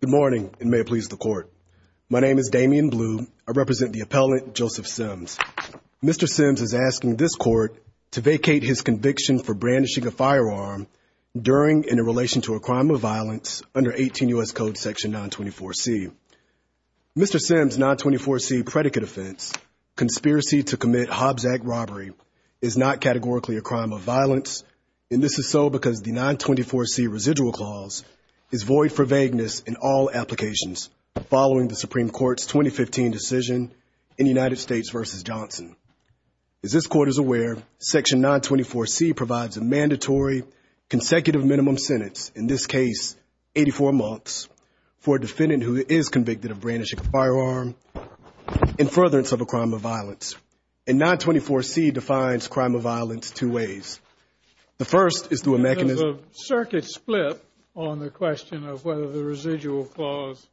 Good morning, and may it please the Court. My name is Damian Blue. I represent the appellant, Joseph Simms. Mr. Simms is asking this Court to vacate his conviction for brandishing a firearm during and in relation to a crime of violence under 18 U.S. Code section 924C. Mr. Simms' 924C predicate offense, conspiracy to commit Hobbs Act robbery, is not categorically a crime of violence, and this is so because the 924C residual clause is void for vagueness in all applications following the Supreme Court's 2015 decision in United States v. Johnson. As this Court is aware, section 924C provides a mandatory consecutive minimum sentence, in this case 84 months, for a defendant who is convicted of brandishing a firearm in furtherance of a crime of violence, and 924C defines crime of violence two ways. The first is through a mechanism There's a circuit split on the question of whether the residual clause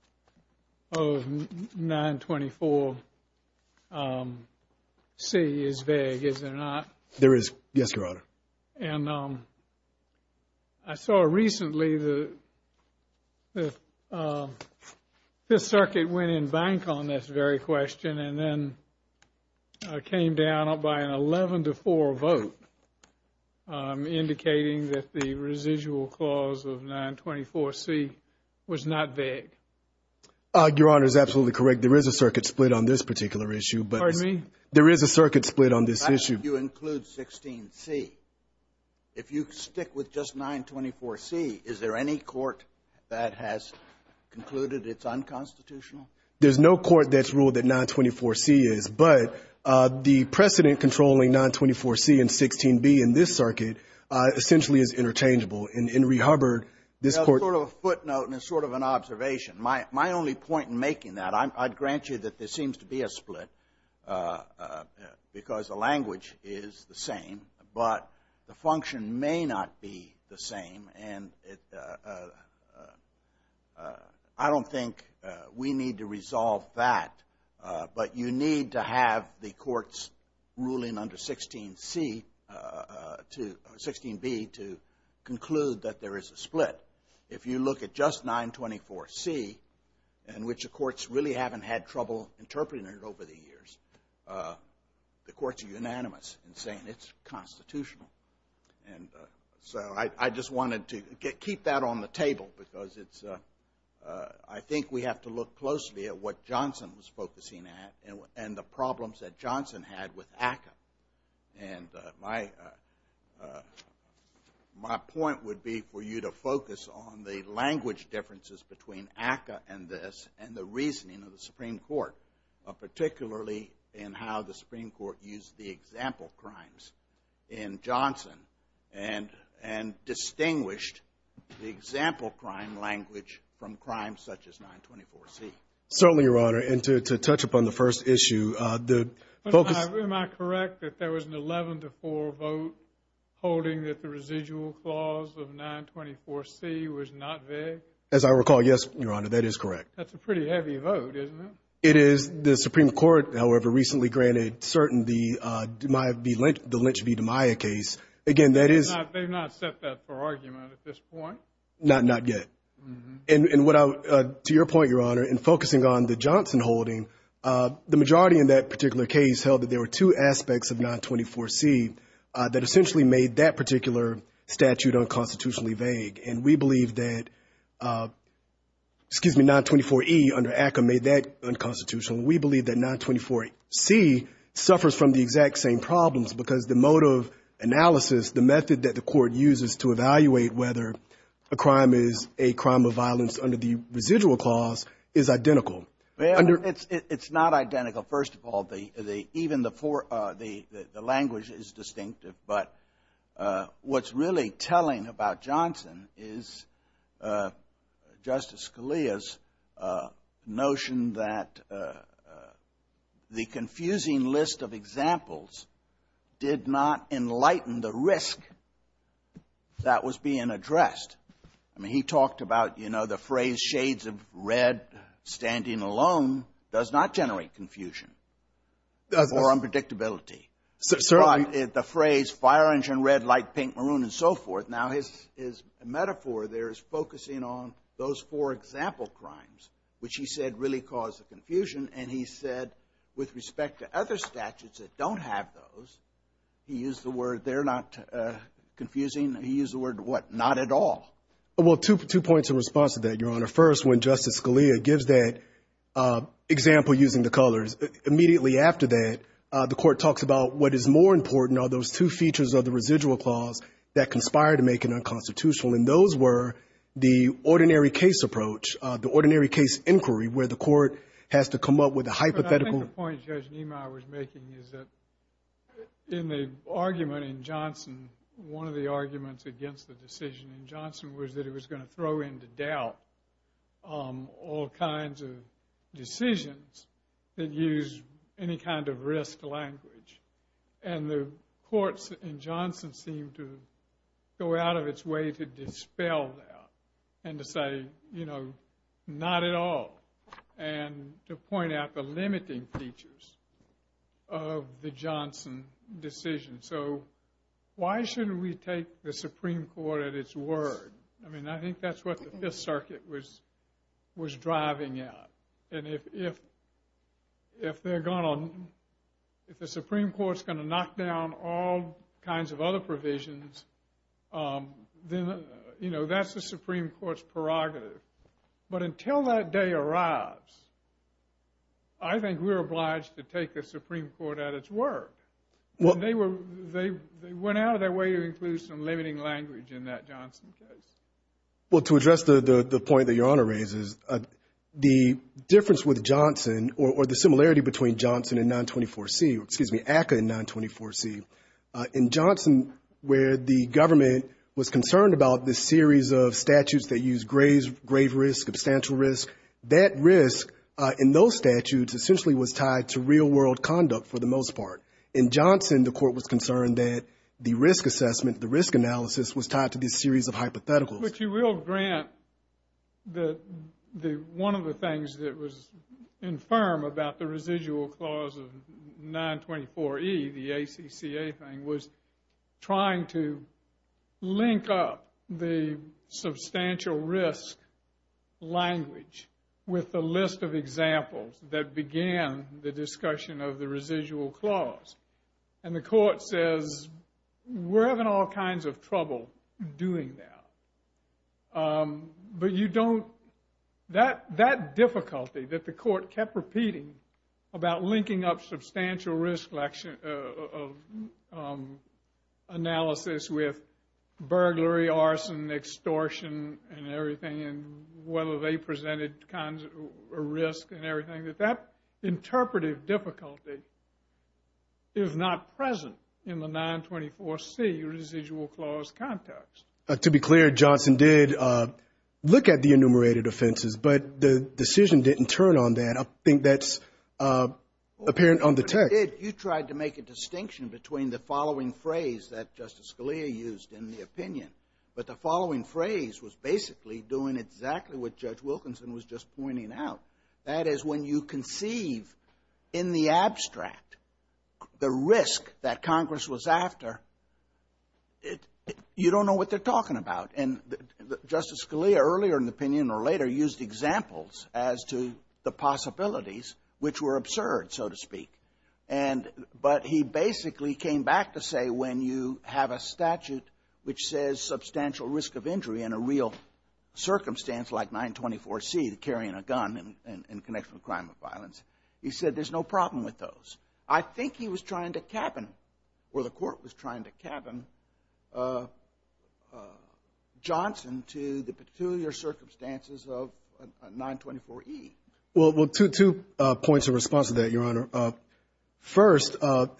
of 924C is vague, is there not? There is. Yes, Your Honor. And I saw recently that this circuit went in bank on this very question and then came down by an 11-4 vote, indicating that the residual clause of 924C was not vague. Your Honor is absolutely correct. There is a circuit split on this particular issue. Pardon me? There is a circuit split on this issue. That's if you include 16C. If you stick with just 924C, is there any court that has concluded it's unconstitutional? There's no court that's ruled that 924C is, but the precedent controlling 924C and 16B in this circuit essentially is interchangeable. In Henry Hubbard, this Court It's sort of a footnote and it's sort of an observation. My only point in making that, I'd grant you that there seems to be a split because the language is the same, but the function may not be the same. And I don't think we need to resolve that, but you need to have the courts ruling under 16B to conclude that there is a split. If you look at just 924C, in which the courts really haven't had trouble interpreting it over the years, the courts are unanimous in saying it's constitutional. And so I just wanted to keep that on the table because it's, I think we have to look closely at what Johnson was focusing at and the problems that Johnson had with ACCA. And my point would be for you to focus on the language differences between ACCA and this and the reasoning of the Supreme Court, particularly in how the Supreme Court used the example crimes in Johnson and distinguished the example crime language from crimes such as 924C. Certainly, Your Honor. And to touch upon the first issue, the focus Am I correct that there was an 11-4 vote holding that the residual clause of 924C was not vague? As I recall, yes, Your Honor, that is correct. That's a pretty heavy vote, isn't it? It is. The Supreme Court, however, recently granted certain the Lynch v. DiMaia case. Again, that is They've not set that for argument at this point. Not yet. And to your point, Your Honor, in focusing on the Johnson holding, the majority in that particular case held that there were two aspects of 924C that essentially made that particular statute unconstitutionally vague. And we believe that, excuse me, 924E under ACCA made that unconstitutional. We believe that 924C suffers from the exact same problems because the mode of analysis, the method that the court uses to evaluate whether a crime is a crime of violence under the residual clause is identical. It's not identical. First of all, even the language is distinctive. But what's really telling about Johnson is Justice Scalia's notion that the confusing list of examples did not enlighten the risk that was being addressed. I mean, he talked about, you know, the phrase shades of red standing alone does not generate confusion or unpredictability. Certainly. The phrase fire engine red, light pink, maroon, and so forth. Now his metaphor there is focusing on those four example crimes, which he said really caused the confusion. And he said with respect to other statutes that don't have those, he used the word they're not confusing. He used the word what? Not at all. Well, two points in response to that, Your Honor. First, when Justice Scalia gives that example using the colors, immediately after that the court talks about what is more important are those two features of the residual clause that conspire to make it unconstitutional. And those were the ordinary case approach, the ordinary case inquiry, where the court has to come up with a hypothetical. But I think the point Judge Niemeyer was making is that in the argument in Johnson, one of the arguments against the decision in Johnson was that it was going to throw into doubt all kinds of decisions that use any kind of risk language. And the courts in Johnson seemed to go out of its way to dispel that and to say, you know, not at all. And to point out the limiting features of the Johnson decision. So why shouldn't we take the Supreme Court at its word? I mean, I think that's what the Fifth Circuit was driving at. And if the Supreme Court's going to knock down all kinds of other provisions, then, you know, that's the Supreme Court's prerogative. But until that day arrives, I think we're obliged to take the Supreme Court at its word. They went out of their way to include some limiting language in that Johnson case. Well, to address the point that Your Honor raises, the difference with Johnson, or the similarity between Johnson and 924C, excuse me, ACCA and 924C, in Johnson where the government was concerned about this series of statutes that use grave risk, substantial risk, that risk in those statutes essentially was tied to real world conduct for the most part. In Johnson, the court was concerned that the risk assessment, the risk analysis, was tied to this series of hypotheticals. But you will grant that one of the things that was infirm about the residual clause of 924E, the ACCA thing, was trying to link up the substantial risk language with the list of examples that began the discussion of the residual clause. And the court says, we're having all kinds of trouble doing that. But you don't, that difficulty that the court kept repeating about linking up substantial risk analysis with burglary, arson, extortion, and everything, and whether they presented a risk and everything, that that interpretive difficulty is not present in the 924C residual clause context. To be clear, Johnson did look at the enumerated offenses, but the decision didn't turn on that. I think that's apparent on the text. You tried to make a distinction between the following phrase that Justice Scalia used in the opinion, but the following phrase was basically doing exactly what Judge Wilkinson was just pointing out. That is, when you conceive in the abstract the risk that Congress was after, you don't know what they're talking about. And Justice Scalia, earlier in the opinion or later, used examples as to the possibilities, which were absurd, so to speak. But he basically came back to say, when you have a statute which says substantial risk of injury in a real circumstance like 924C, carrying a gun in connection with a crime of violence, he said there's no problem with those. I think he was trying to cabin, or the court was trying to cabin Johnson to the peculiar circumstances of 924E. Well, two points of response to that, Your Honor. First, the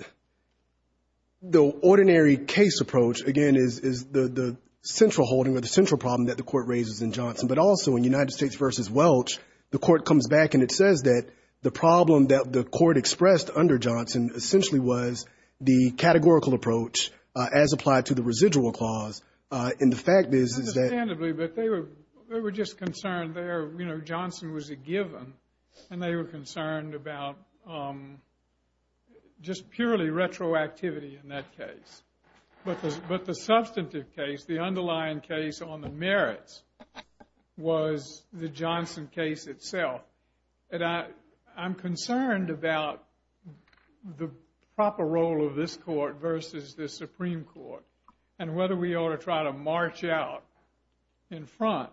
ordinary case approach, again, is the central holding or the central problem that the Court raises in Johnson. But also in United States v. Welch, the Court comes back and it says that the problem that the Court expressed under Johnson essentially was the categorical approach as applied to the residual clause. And the fact is that — and they were concerned about just purely retroactivity in that case. But the substantive case, the underlying case on the merits, was the Johnson case itself. And I'm concerned about the proper role of this Court versus the Supreme Court and whether we ought to try to march out in front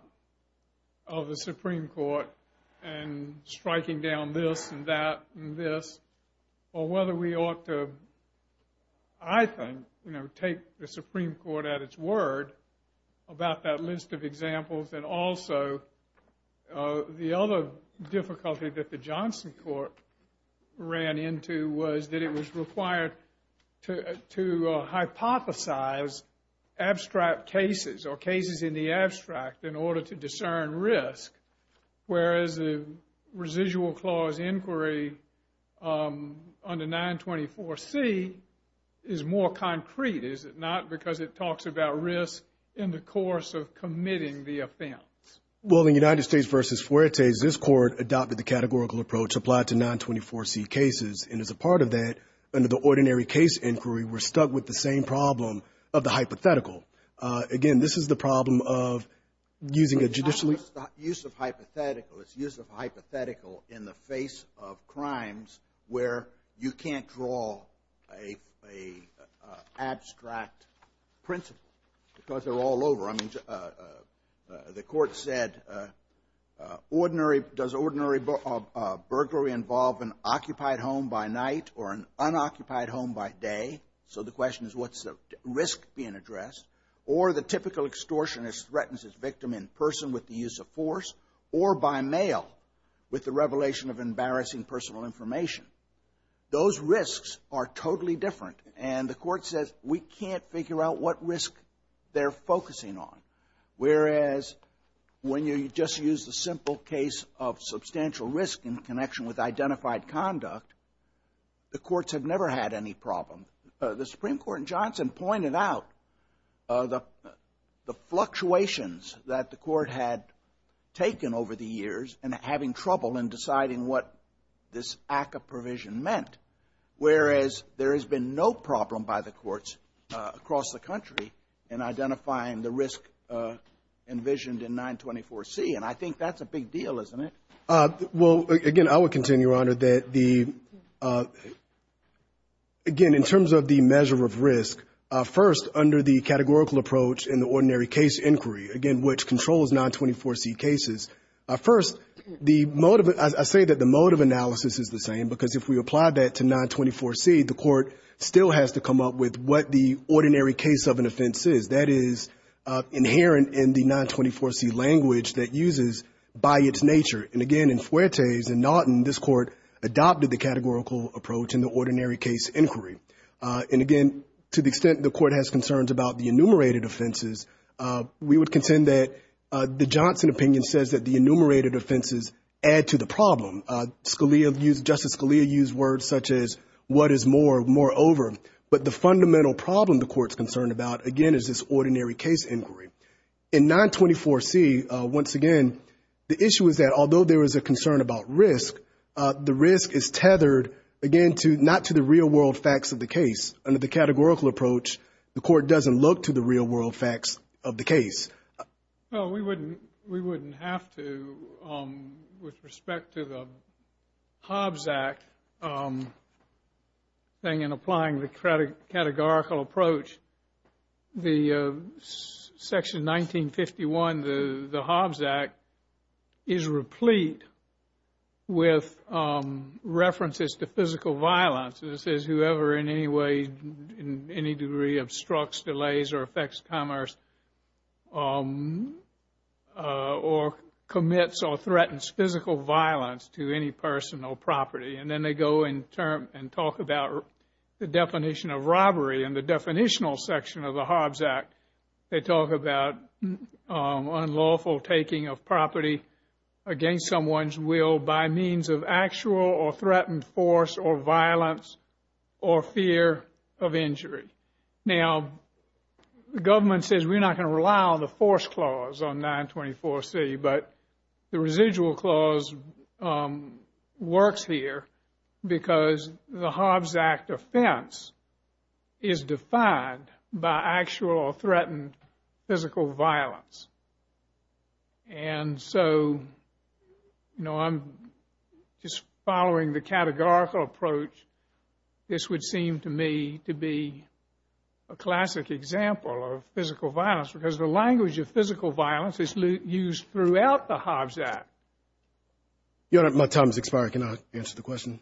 of the Supreme Court and striking down this and that and this, or whether we ought to, I think, take the Supreme Court at its word about that list of examples. And also, the other difficulty that the Johnson Court ran into was that it was required to hypothesize abstract cases or cases in the abstract in order to discern risk, whereas the residual clause inquiry under 924C is more concrete, is it not, because it talks about risk in the course of committing the offense. Well, in United States v. Fuertes, this Court adopted the categorical approach as applied to 924C cases. And as a part of that, under the ordinary case inquiry, we're stuck with the same problem of the hypothetical. Again, this is the problem of using a judicially — But it's not just the use of hypothetical. It's use of hypothetical in the face of crimes where you can't draw an abstract principle because they're all over. The Court said, does ordinary burglary involve an occupied home by night or an unoccupied home by day? So the question is, what's the risk being addressed? Or the typical extortionist threatens his victim in person with the use of force or by mail with the revelation of embarrassing personal information. Those risks are totally different. And the Court says, we can't figure out what risk they're focusing on. Whereas, when you just use the simple case of substantial risk in connection with identified conduct, the courts have never had any problem. The Supreme Court in Johnson pointed out the fluctuations that the Court had taken over the years in having trouble in deciding what this act of provision meant. Whereas, there has been no problem by the courts across the country in identifying the risk envisioned in 924C. And I think that's a big deal, isn't it? Well, again, I would continue, Your Honor, that the — again, in terms of the measure of risk, first, under the categorical approach in the ordinary case inquiry, again, which controls 924C cases, first, the mode of — I say that the mode of analysis is the same because if we apply that to 924C, the Court still has to come up with what the ordinary case of an offense is. That is inherent in the 924C language that uses by its nature. And again, in Fuertes and Naughton, this Court adopted the categorical approach in the ordinary case inquiry. And again, to the extent the Court has concerns about the enumerated offenses, we would contend that the Johnson opinion says that the enumerated offenses add to the problem. Scalia used — Justice Scalia used words such as what is more, more over. But the fundamental problem the Court's concerned about, again, is this ordinary case inquiry. In 924C, once again, the issue is that although there is a concern about risk, the risk is tethered, again, to — not to the real-world facts of the case. Under the categorical approach, the Court doesn't look to the real-world facts of the case. Well, we wouldn't — we wouldn't have to with respect to the Hobbs Act thing and applying the categorical approach. The section 1951, the Hobbs Act, is replete with references to physical violence. This is whoever in any way, in any degree, obstructs, delays, or affects commerce or commits or threatens physical violence to any person or property. And then they go and talk about the definition of robbery. In the definitional section of the Hobbs Act, they talk about unlawful taking of property against someone's will by means of actual or threatened force or violence or fear of injury. Now, the government says we're not going to rely on the force clause on 924C, but the residual clause works here because the Hobbs Act offense is defined by actual or threatened physical violence. And so, you know, I'm just following the categorical approach. This would seem to me to be a classic example of physical violence because the language of physical violence is used throughout the Hobbs Act. Your Honor, my time has expired. Can I answer the question?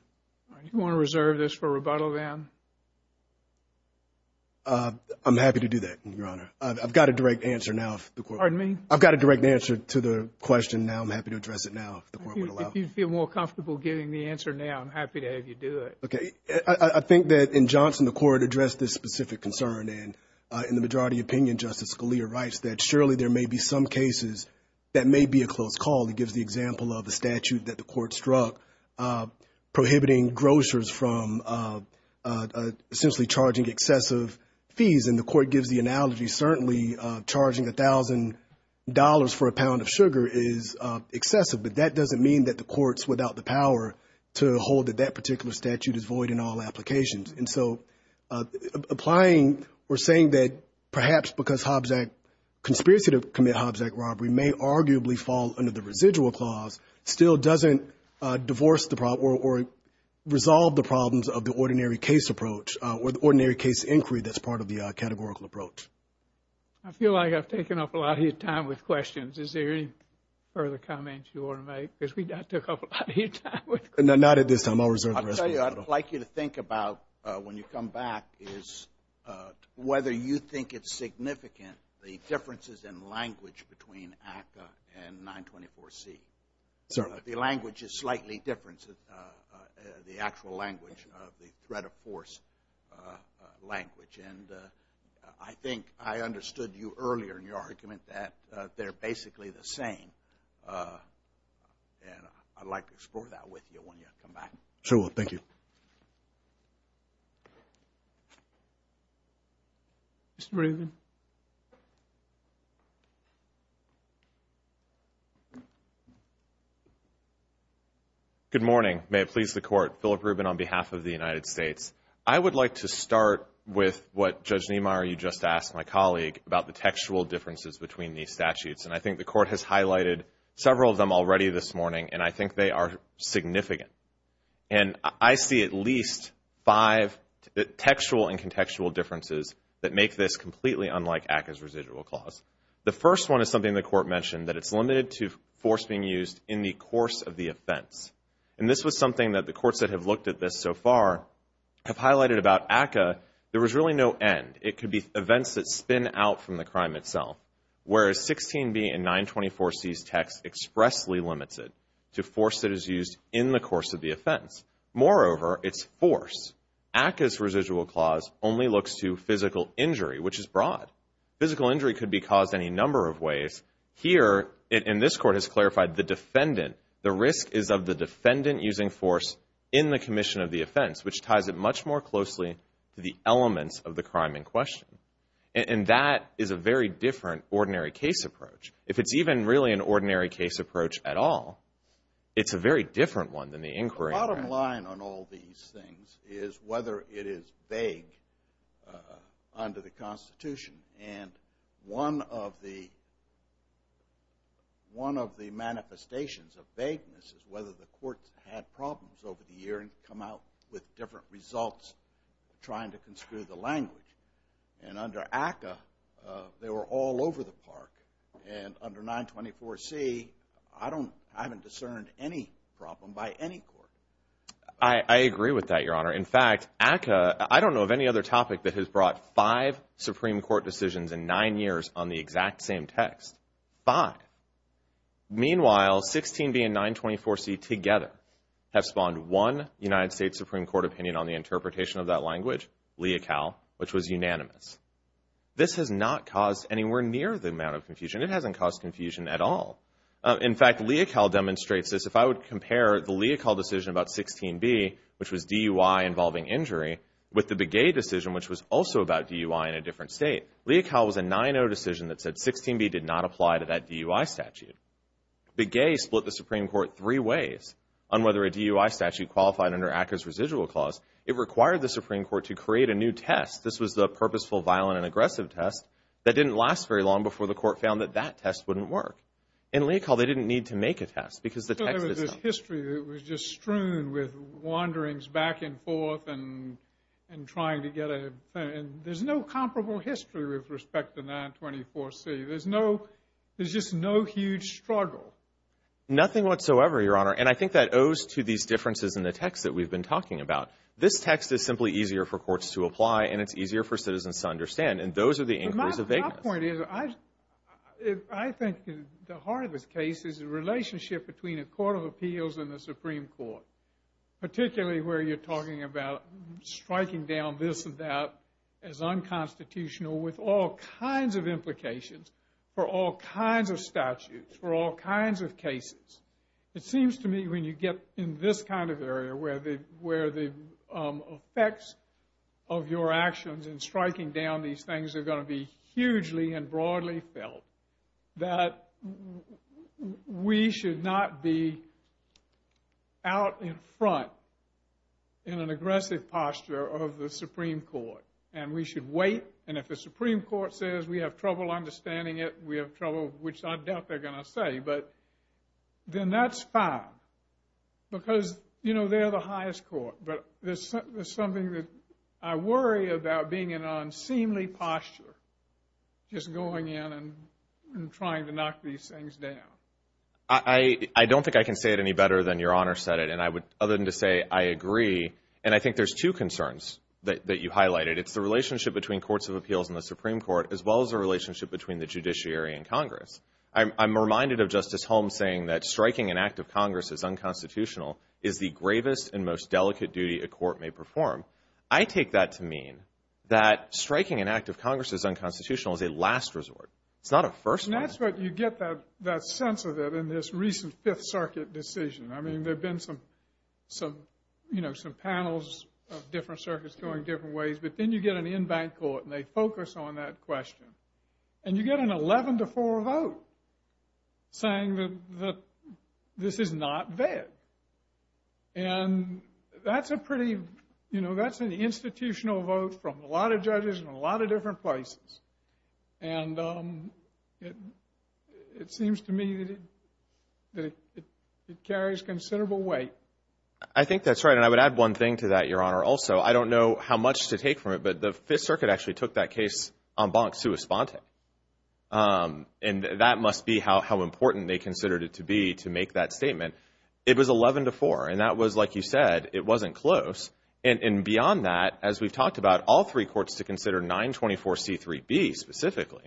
You want to reserve this for rebuttal then? I'm happy to do that, Your Honor. I've got a direct answer now. Pardon me? I've got a direct answer to the question now. I'm happy to address it now if the Court would allow it. If you feel more comfortable giving the answer now, I'm happy to have you do it. Okay. I think that in Johnson, the Court addressed this specific concern. And in the majority opinion, Justice Scalia writes that, surely there may be some cases that may be a close call. He gives the example of the statute that the Court struck prohibiting grocers from essentially charging excessive fees. And the Court gives the analogy, certainly, charging $1,000 for a pound of sugar is excessive. But that doesn't mean that the Court's without the power to hold that that particular statute is void in all applications. And so applying or saying that perhaps because Hobbs Act conspiracy to commit Hobbs Act robbery may arguably fall under the residual clause still doesn't divorce the problem or resolve the problems of the ordinary case approach or the ordinary case inquiry that's part of the categorical approach. I feel like I've taken up a lot of your time with questions. Is there any further comments you want to make? Because we took up a lot of your time with questions. Not at this time. I'll reserve the rest of it. I'd like you to think about when you come back is whether you think it's significant, the differences in language between ACCA and 924C. Certainly. The language is slightly different. The actual language of the threat of force language. And I think I understood you earlier in your argument that they're basically the same. And I'd like to explore that with you when you come back. Sure. Well, thank you. Mr. Rubin. Good morning. May it please the Court. Philip Rubin on behalf of the United States. I would like to start with what Judge Niemeyer, you just asked my colleague, about the textual differences between these statutes. And I think the Court has highlighted several of them already this morning. And I think they are significant. And I see at least five textual and contextual differences that make this completely unlike ACCA's residual clause. The first one is something the Court mentioned, that it's limited to force being used in the course of the offense. And this was something that the courts that have looked at this so far have highlighted about ACCA. There was really no end. It could be events that spin out from the crime itself. Whereas 16B and 924C's text expressly limits it to force that is used in the course of the offense. Moreover, it's force. ACCA's residual clause only looks to physical injury, which is broad. Physical injury could be caused any number of ways. Here, and this Court has clarified, the defendant, the risk is of the defendant using force in the commission of the offense, which ties it much more closely to the elements of the crime in question. And that is a very different ordinary case approach. If it's even really an ordinary case approach at all, it's a very different one than the inquiry. The bottom line on all these things is whether it is vague under the Constitution. And one of the manifestations of vagueness is whether the courts had problems over the years and come out with different results trying to construe the language. And under ACCA, they were all over the park. And under 924C, I haven't discerned any problem by any court. I agree with that, Your Honor. In fact, ACCA, I don't know of any other topic that has brought five Supreme Court decisions in nine years on the exact same text. Five. Meanwhile, 16B and 924C together have spawned one United States Supreme Court opinion on the interpretation of that language, lea cal, which was unanimous. This has not caused anywhere near the amount of confusion. It hasn't caused confusion at all. In fact, lea cal demonstrates this. If I would compare the lea cal decision about 16B, which was DUI involving injury, with the Begay decision, which was also about DUI in a different state, lea cal was a 9-0 decision that said 16B did not apply to that DUI statute. Begay split the Supreme Court three ways on whether a DUI statute qualified under ACCA's residual clause. It required the Supreme Court to create a new test. This was the purposeful, violent, and aggressive test. That didn't last very long before the court found that that test wouldn't work. In lea cal, they didn't need to make a test because the text is done. But there was this history that was just strewn with wanderings back and forth and trying to get a, and there's no comparable history with respect to 924C. There's no, there's just no huge struggle. Nothing whatsoever, Your Honor. And I think that owes to these differences in the text that we've been talking about. This text is simply easier for courts to apply and it's easier for citizens to understand. And those are the inquiries of vagueness. My point is, I think the heart of this case is the relationship between a court of appeals and the Supreme Court, particularly where you're talking about striking down this and that as unconstitutional with all kinds of implications for all kinds of statutes, for all kinds of cases. It seems to me when you get in this kind of area, where the effects of your actions in striking down these things are going to be hugely and broadly felt, that we should not be out in front in an aggressive posture of the Supreme Court. And we should wait. And if the Supreme Court says we have trouble understanding it, we have trouble, which I doubt they're going to say. But then that's fine because, you know, they're the highest court. But there's something that I worry about being in an unseemly posture, just going in and trying to knock these things down. I don't think I can say it any better than Your Honor said it. And I would, other than to say I agree, and I think there's two concerns that you highlighted. It's the relationship between courts of appeals and the Supreme Court, as well as the relationship between the judiciary and Congress. I'm reminded of Justice Holmes saying that striking an act of Congress as unconstitutional is the gravest and most delicate duty a court may perform. I take that to mean that striking an act of Congress as unconstitutional is a last resort. It's not a first one. And that's where you get that sense of it in this recent Fifth Circuit decision. I mean, there have been some, you know, some panels of different circuits going different ways. But then you get an in-bank court and they focus on that question. And you get an 11-4 vote saying that this is not vet. And that's a pretty, you know, that's an institutional vote from a lot of judges in a lot of different places. And it seems to me that it carries considerable weight. I think that's right. And I would add one thing to that, Your Honor, also. I don't know how much to take from it, but the Fifth Circuit actually took that case en banc sua sponte. And that must be how important they considered it to be to make that statement. It was 11-4. And that was, like you said, it wasn't close. And beyond that, as we've talked about, all three courts to consider 924C3B specifically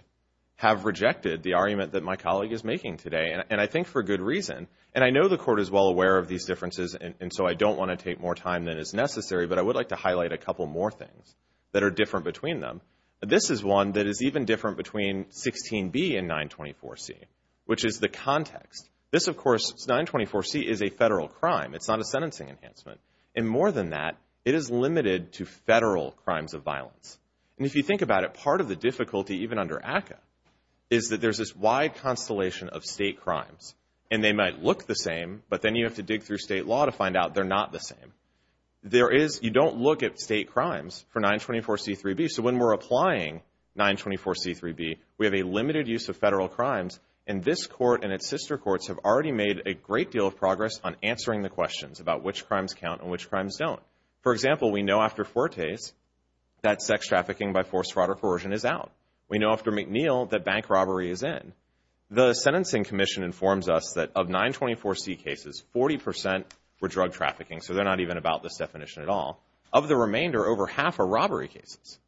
have rejected the argument that my colleague is making today. And I think for good reason. And I know the court is well aware of these differences, and so I don't want to take more time than is necessary. But I would like to highlight a couple more things that are different between them. This is one that is even different between 16B and 924C, which is the context. This, of course, 924C is a federal crime. It's not a sentencing enhancement. And more than that, it is limited to federal crimes of violence. And if you think about it, part of the difficulty, even under ACCA, is that there's this wide constellation of state crimes. And they might look the same, but then you have to dig through state law to find out they're not the same. You don't look at state crimes for 924C3B. So when we're applying 924C3B, we have a limited use of federal crimes. And this court and its sister courts have already made a great deal of progress on answering the questions about which crimes count and which crimes don't. For example, we know after Fuertes that sex trafficking by forced fraud or coercion is out. We know after McNeil that bank robbery is in. The Sentencing Commission informs us that of 924C cases, 40% were drug trafficking, so they're not even about this definition at all. Of the remainder, over half are robbery cases.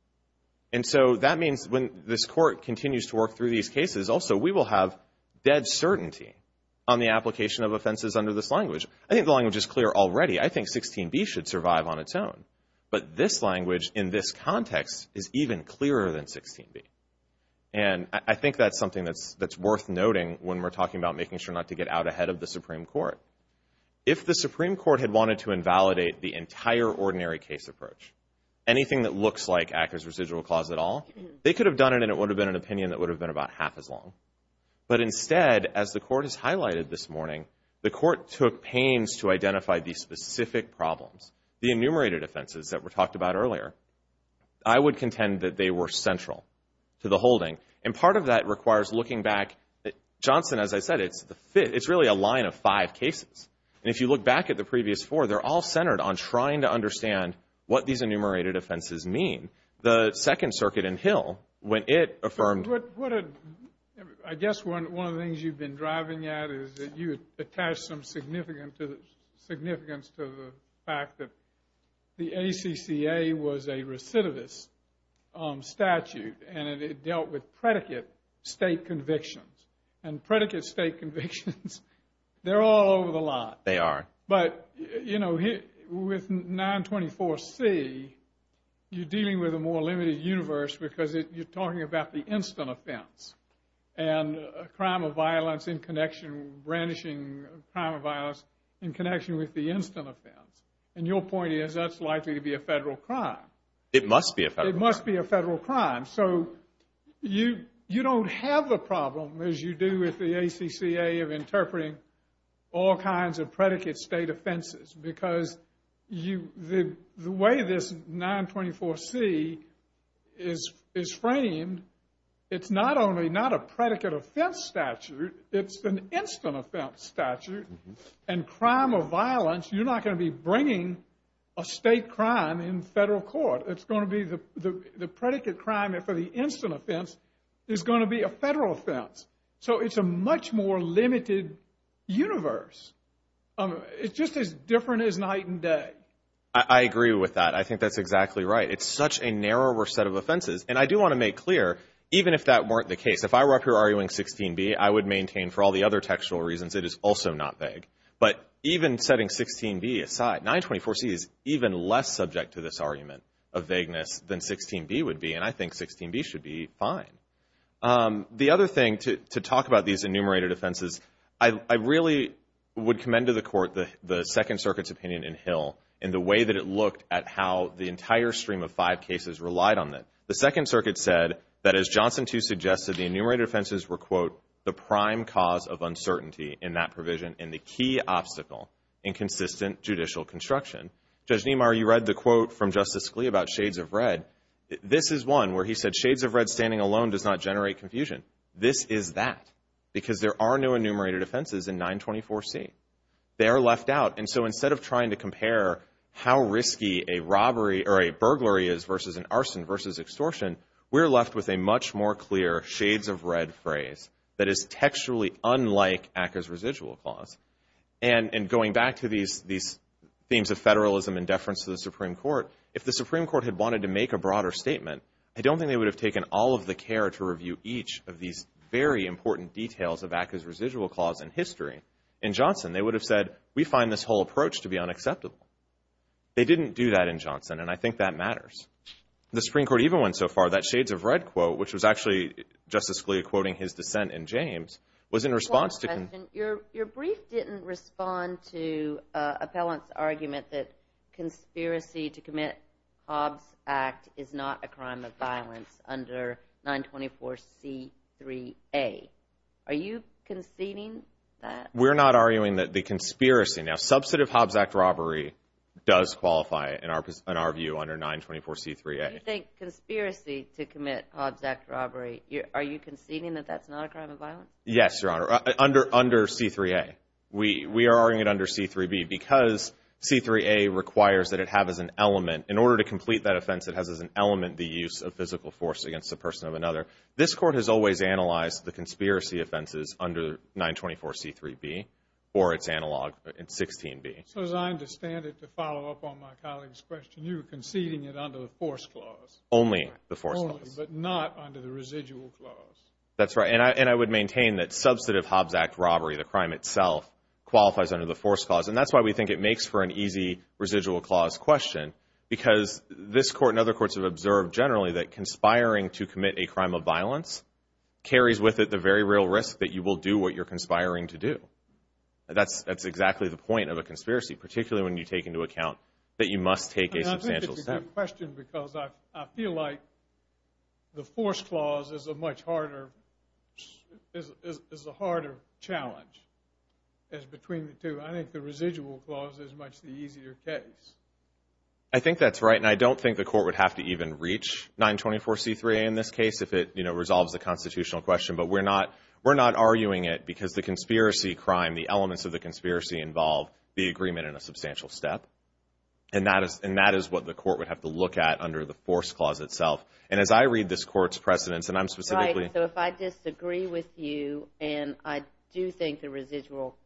And so that means when this court continues to work through these cases, also we will have dead certainty on the application of offenses under this language. I think the language is clear already. I think 16B should survive on its own. But this language in this context is even clearer than 16B. And I think that's something that's worth noting when we're talking about making sure not to get out ahead of the Supreme Court. If the Supreme Court had wanted to invalidate the entire ordinary case approach, anything that looks like Acker's Residual Clause at all, they could have done it and it would have been an opinion that would have been about half as long. But instead, as the Court has highlighted this morning, the Court took pains to identify these specific problems, the enumerated offenses that were talked about earlier. I would contend that they were central to the holding. And part of that requires looking back. Johnson, as I said, it's really a line of five cases. And if you look back at the previous four, they're all centered on trying to understand what these enumerated offenses mean. The Second Circuit in Hill, when it affirmed... I guess one of the things you've been driving at is that you attach some significance to the fact that the ACCA was a recidivist statute and it dealt with predicate state convictions. And predicate state convictions, they're all over the lot. They are. But, you know, with 924C, you're dealing with a more limited universe because you're talking about the instant offense and crime of violence in connection, brandishing crime of violence in connection with the instant offense. And your point is that's likely to be a federal crime. It must be a federal crime. It must be a federal crime. So you don't have the problem, as you do with the ACCA, of interpreting all kinds of predicate state offenses because the way this 924C is framed, it's not only not a predicate offense statute, it's an instant offense statute. And crime of violence, you're not going to be bringing a state crime in federal court. It's going to be the predicate crime for the instant offense is going to be a federal offense. So it's a much more limited universe. It's just as different as night and day. I agree with that. I think that's exactly right. It's such a narrower set of offenses. And I do want to make clear, even if that weren't the case, if I were up here arguing 16B, I would maintain for all the other textual reasons it is also not vague. But even setting 16B aside, 924C is even less subject to this argument of vagueness than 16B would be, and I think 16B should be fine. The other thing, to talk about these enumerated offenses, I really would commend to the court the Second Circuit's opinion in Hill and the way that it looked at how the entire stream of five cases relied on it. The Second Circuit said that, as Johnson, too, suggested, the enumerated offenses were, quote, the prime cause of uncertainty in that provision and the key obstacle in consistent judicial construction. Judge Niemeyer, you read the quote from Justice Scalia about shades of red. This is one where he said shades of red standing alone does not generate confusion. This is that because there are no enumerated offenses in 924C. They are left out. And so instead of trying to compare how risky a robbery or a burglary is versus an arson versus extortion, we're left with a much more clear shades of red phrase that is textually unlike ACCA's residual clause. And going back to these themes of federalism and deference to the Supreme Court, if the Supreme Court had wanted to make a broader statement, I don't think they would have taken all of the care to review each of these very important details of ACCA's residual clause in history. In Johnson, they would have said, we find this whole approach to be unacceptable. They didn't do that in Johnson, and I think that matters. The Supreme Court even went so far that shades of red quote, which was actually Justice Scalia quoting his dissent in James, was in response to- One question. Your brief didn't respond to appellant's argument that conspiracy to commit Hobbs Act is not a crime of violence under 924C3A. Are you conceding that? We're not arguing that the conspiracy. Now, substantive Hobbs Act robbery does qualify, in our view, under 924C3A. You think conspiracy to commit Hobbs Act robbery, are you conceding that that's not a crime of violence? Yes, Your Honor. Under C3A. We are arguing it under C3B because C3A requires that it have as an element, in order to complete that offense, it has as an element the use of physical force against the person of another. This Court has always analyzed the conspiracy offenses under 924C3B or its analog in 16B. So as I understand it, to follow up on my colleague's question, you're conceding it under the force clause. Only the force clause. Only, but not under the residual clause. That's right. And I would maintain that substantive Hobbs Act robbery, the crime itself, qualifies under the force clause. And that's why we think it makes for an easy residual clause question, because this Court and other courts have observed generally that conspiring to commit a crime of violence carries with it the very real risk that you will do what you're conspiring to do. That's exactly the point of a conspiracy, particularly when you take into account that you must take a substantial step. I think it's a good question because I feel like the force clause is a much harder, is a harder challenge as between the two. I think the residual clause is much the easier case. I think that's right, and I don't think the Court would have to even reach 924C3A in this case if it resolves the constitutional question. But we're not arguing it because the conspiracy crime, the elements of the conspiracy, involve the agreement and a substantial step. And that is what the Court would have to look at under the force clause itself. And as I read this Court's precedents, and I'm specifically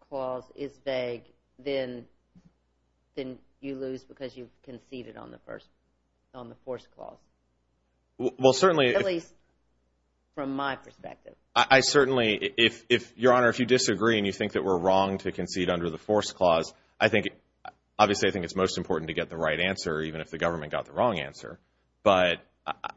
– then you lose because you conceded on the first – on the force clause. Well, certainly – At least from my perspective. I certainly – Your Honor, if you disagree and you think that we're wrong to concede under the force clause, I think – obviously I think it's most important to get the right answer, even if the government got the wrong answer. But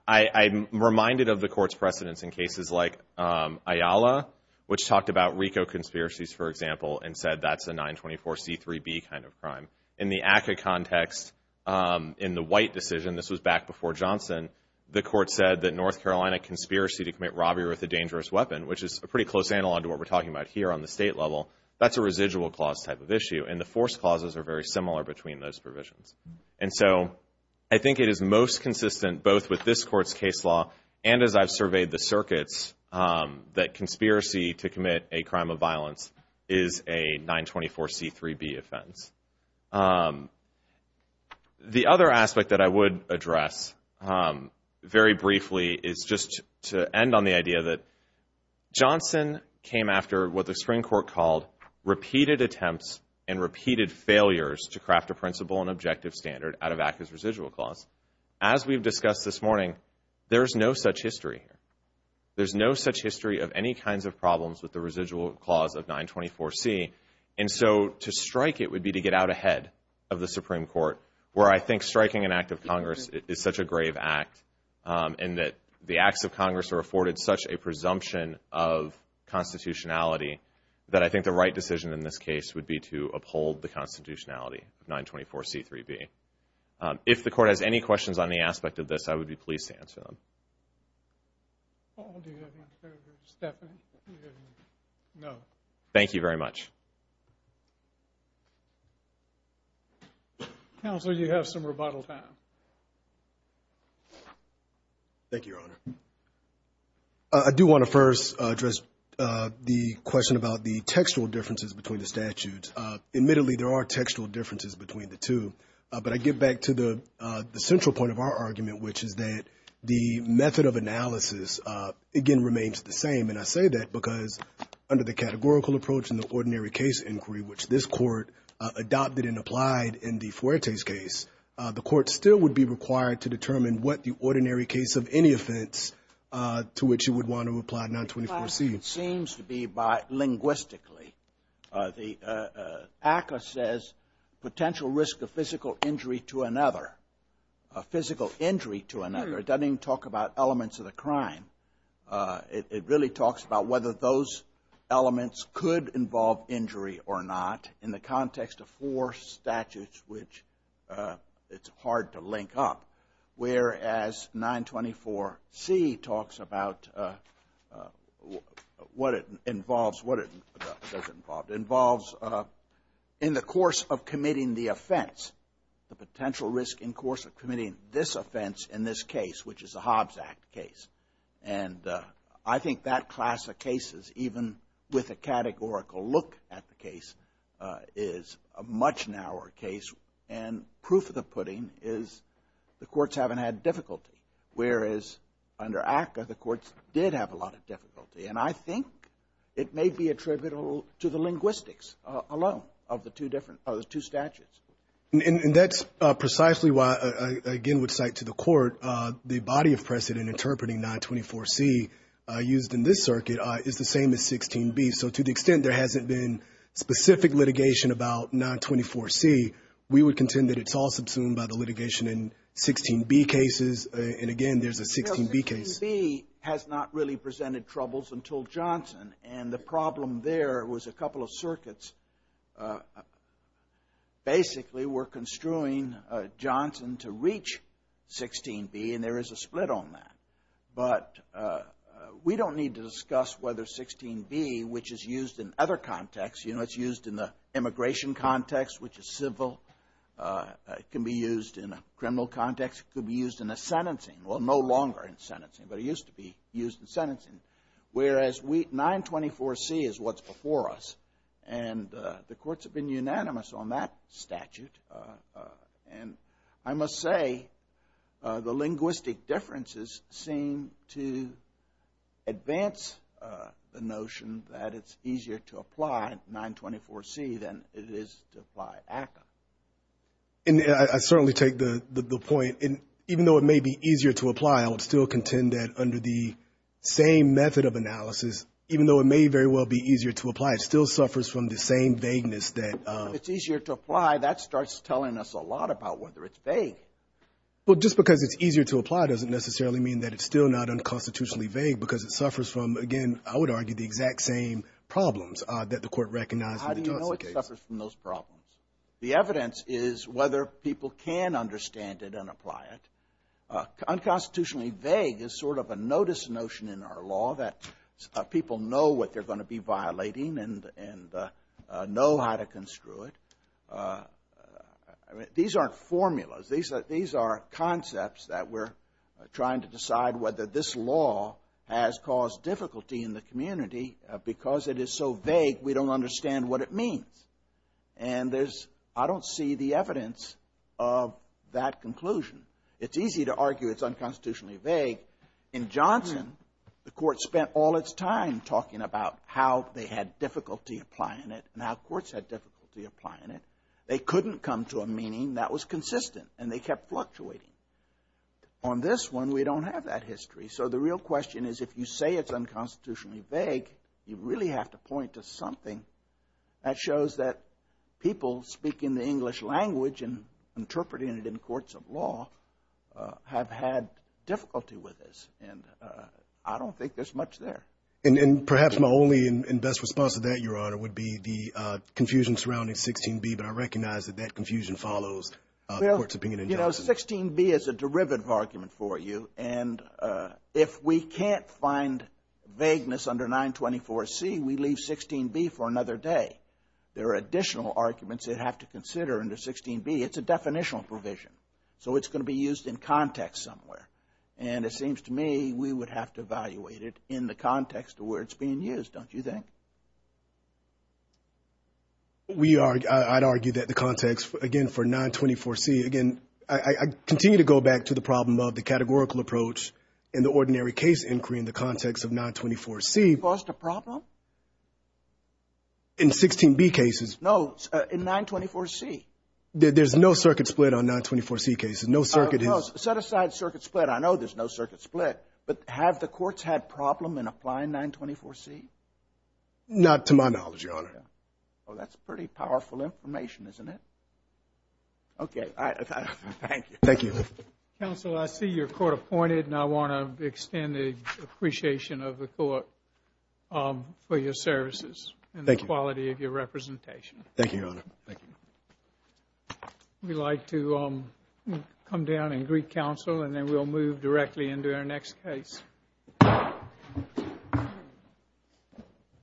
I'm reminded of the Court's precedents in cases like Ayala, which talked about RICO conspiracies, for example, and said that's a 924C3B kind of crime. In the ACCA context, in the White decision – this was back before Johnson – the Court said that North Carolina conspiracy to commit robbery with a dangerous weapon, which is a pretty close analog to what we're talking about here on the state level, that's a residual clause type of issue. And the force clauses are very similar between those provisions. And so I think it is most consistent both with this Court's case law and as I've surveyed the circuits that conspiracy to commit a crime of violence is a 924C3B offense. The other aspect that I would address very briefly is just to end on the idea that Johnson came after what the Supreme Court called repeated attempts and repeated failures to craft a principle and objective standard out of ACCA's residual clause. As we've discussed this morning, there's no such history here. There's no such history of any kinds of problems with the residual clause of 924C. And so to strike it would be to get out ahead of the Supreme Court, where I think striking an act of Congress is such a grave act and that the acts of Congress are afforded such a presumption of constitutionality that I think the right decision in this case would be to uphold the constitutionality of 924C3B. If the Court has any questions on the aspect of this, I would be pleased to answer them. Paul, do you have any? Stephanie, do you have any? No. Thank you very much. Counsel, you have some rebuttal time. Thank you, Your Honor. I do want to first address the question about the textual differences between the statutes. Admittedly, there are textual differences between the two, but I get back to the central point of our argument, which is that the method of analysis, again, remains the same. And I say that because under the categorical approach in the ordinary case inquiry, which this Court adopted and applied in the Fuertes case, the Court still would be required to determine what the ordinary case of any offense to which you would want to apply 924C. It seems to be by linguistically. ACCA says potential risk of physical injury to another, physical injury to another. It doesn't even talk about elements of the crime. It really talks about whether those elements could involve injury or not in the context of four statutes, which it's hard to link up, whereas 924C talks about what it involves, what it doesn't involve. It involves in the course of committing the offense, the potential risk in course of committing this offense in this case, which is the Hobbs Act case. And I think that class of cases, even with a categorical look at the case, is a much narrower case. And proof of the pudding is the courts haven't had difficulty, whereas under ACCA, the courts did have a lot of difficulty. And I think it may be attributable to the linguistics alone of the two different, of the two statutes. And that's precisely why I again would cite to the court the body of precedent interpreting 924C used in this circuit is the same as 16B. So to the extent there hasn't been specific litigation about 924C, we would contend that it's all subsumed by the litigation in 16B cases. And again, there's a 16B case. 16B has not really presented troubles until Johnson. And the problem there was a couple of circuits. Basically, we're construing Johnson to reach 16B, and there is a split on that. But we don't need to discuss whether 16B, which is used in other contexts, you know, it's used in the immigration context, which is civil. It can be used in a criminal context. It could be used in a sentencing. Well, no longer in sentencing, but it used to be used in sentencing. Whereas 924C is what's before us. And the courts have been unanimous on that statute. And I must say the linguistic differences seem to advance the notion that it's easier to apply 924C than it is to apply ACCA. And I certainly take the point. And even though it may be easier to apply, I would still contend that under the same method of analysis, even though it may very well be easier to apply, it still suffers from the same vagueness that ‑‑ If it's easier to apply, that starts telling us a lot about whether it's vague. Well, just because it's easier to apply doesn't necessarily mean that it's still not unconstitutionally vague because it suffers from, again, I would argue the exact same problems that the Court recognized in the Johnson case. How do you know it suffers from those problems? The evidence is whether people can understand it and apply it. Unconstitutionally vague is sort of a notice notion in our law that people know what they're going to be violating and know how to construe it. These aren't formulas. These are concepts that we're trying to decide whether this law has caused difficulty in the community because it is so vague we don't understand what it means. And there's ‑‑ I don't see the evidence of that conclusion. It's easy to argue it's unconstitutionally vague. In Johnson, the Court spent all its time talking about how they had difficulty applying it and how courts had difficulty applying it. They couldn't come to a meaning that was consistent, and they kept fluctuating. On this one, we don't have that history. So the real question is if you say it's unconstitutionally vague, you really have to point to something that shows that people speaking the English language and interpreting it in courts of law have had difficulty with this. And I don't think there's much there. And perhaps my only and best response to that, Your Honor, would be the confusion surrounding 16B, but I recognize that that confusion follows the court's opinion in Johnson. You know, 16B is a derivative argument for you, and if we can't find vagueness under 924C, we leave 16B for another day. There are additional arguments they have to consider under 16B. It's a definitional provision, so it's going to be used in context somewhere. And it seems to me we would have to evaluate it in the context of where it's being used, don't you think? We are, I'd argue that the context, again, for 924C, again, I continue to go back to the problem of the categorical approach and the ordinary case inquiry in the context of 924C. Caused a problem? In 16B cases. No, in 924C. There's no circuit split on 924C cases. No circuit has. Set aside circuit split. I know there's no circuit split. But have the courts had problem in applying 924C? Not to my knowledge, Your Honor. Well, that's pretty powerful information, isn't it? Okay. Thank you. Thank you. Counsel, I see you're court appointed, and I want to extend the appreciation of the court for your services and the quality of your representation. Thank you, Your Honor. Thank you. We'd like to come down and greet counsel, and then we'll move directly into our next case.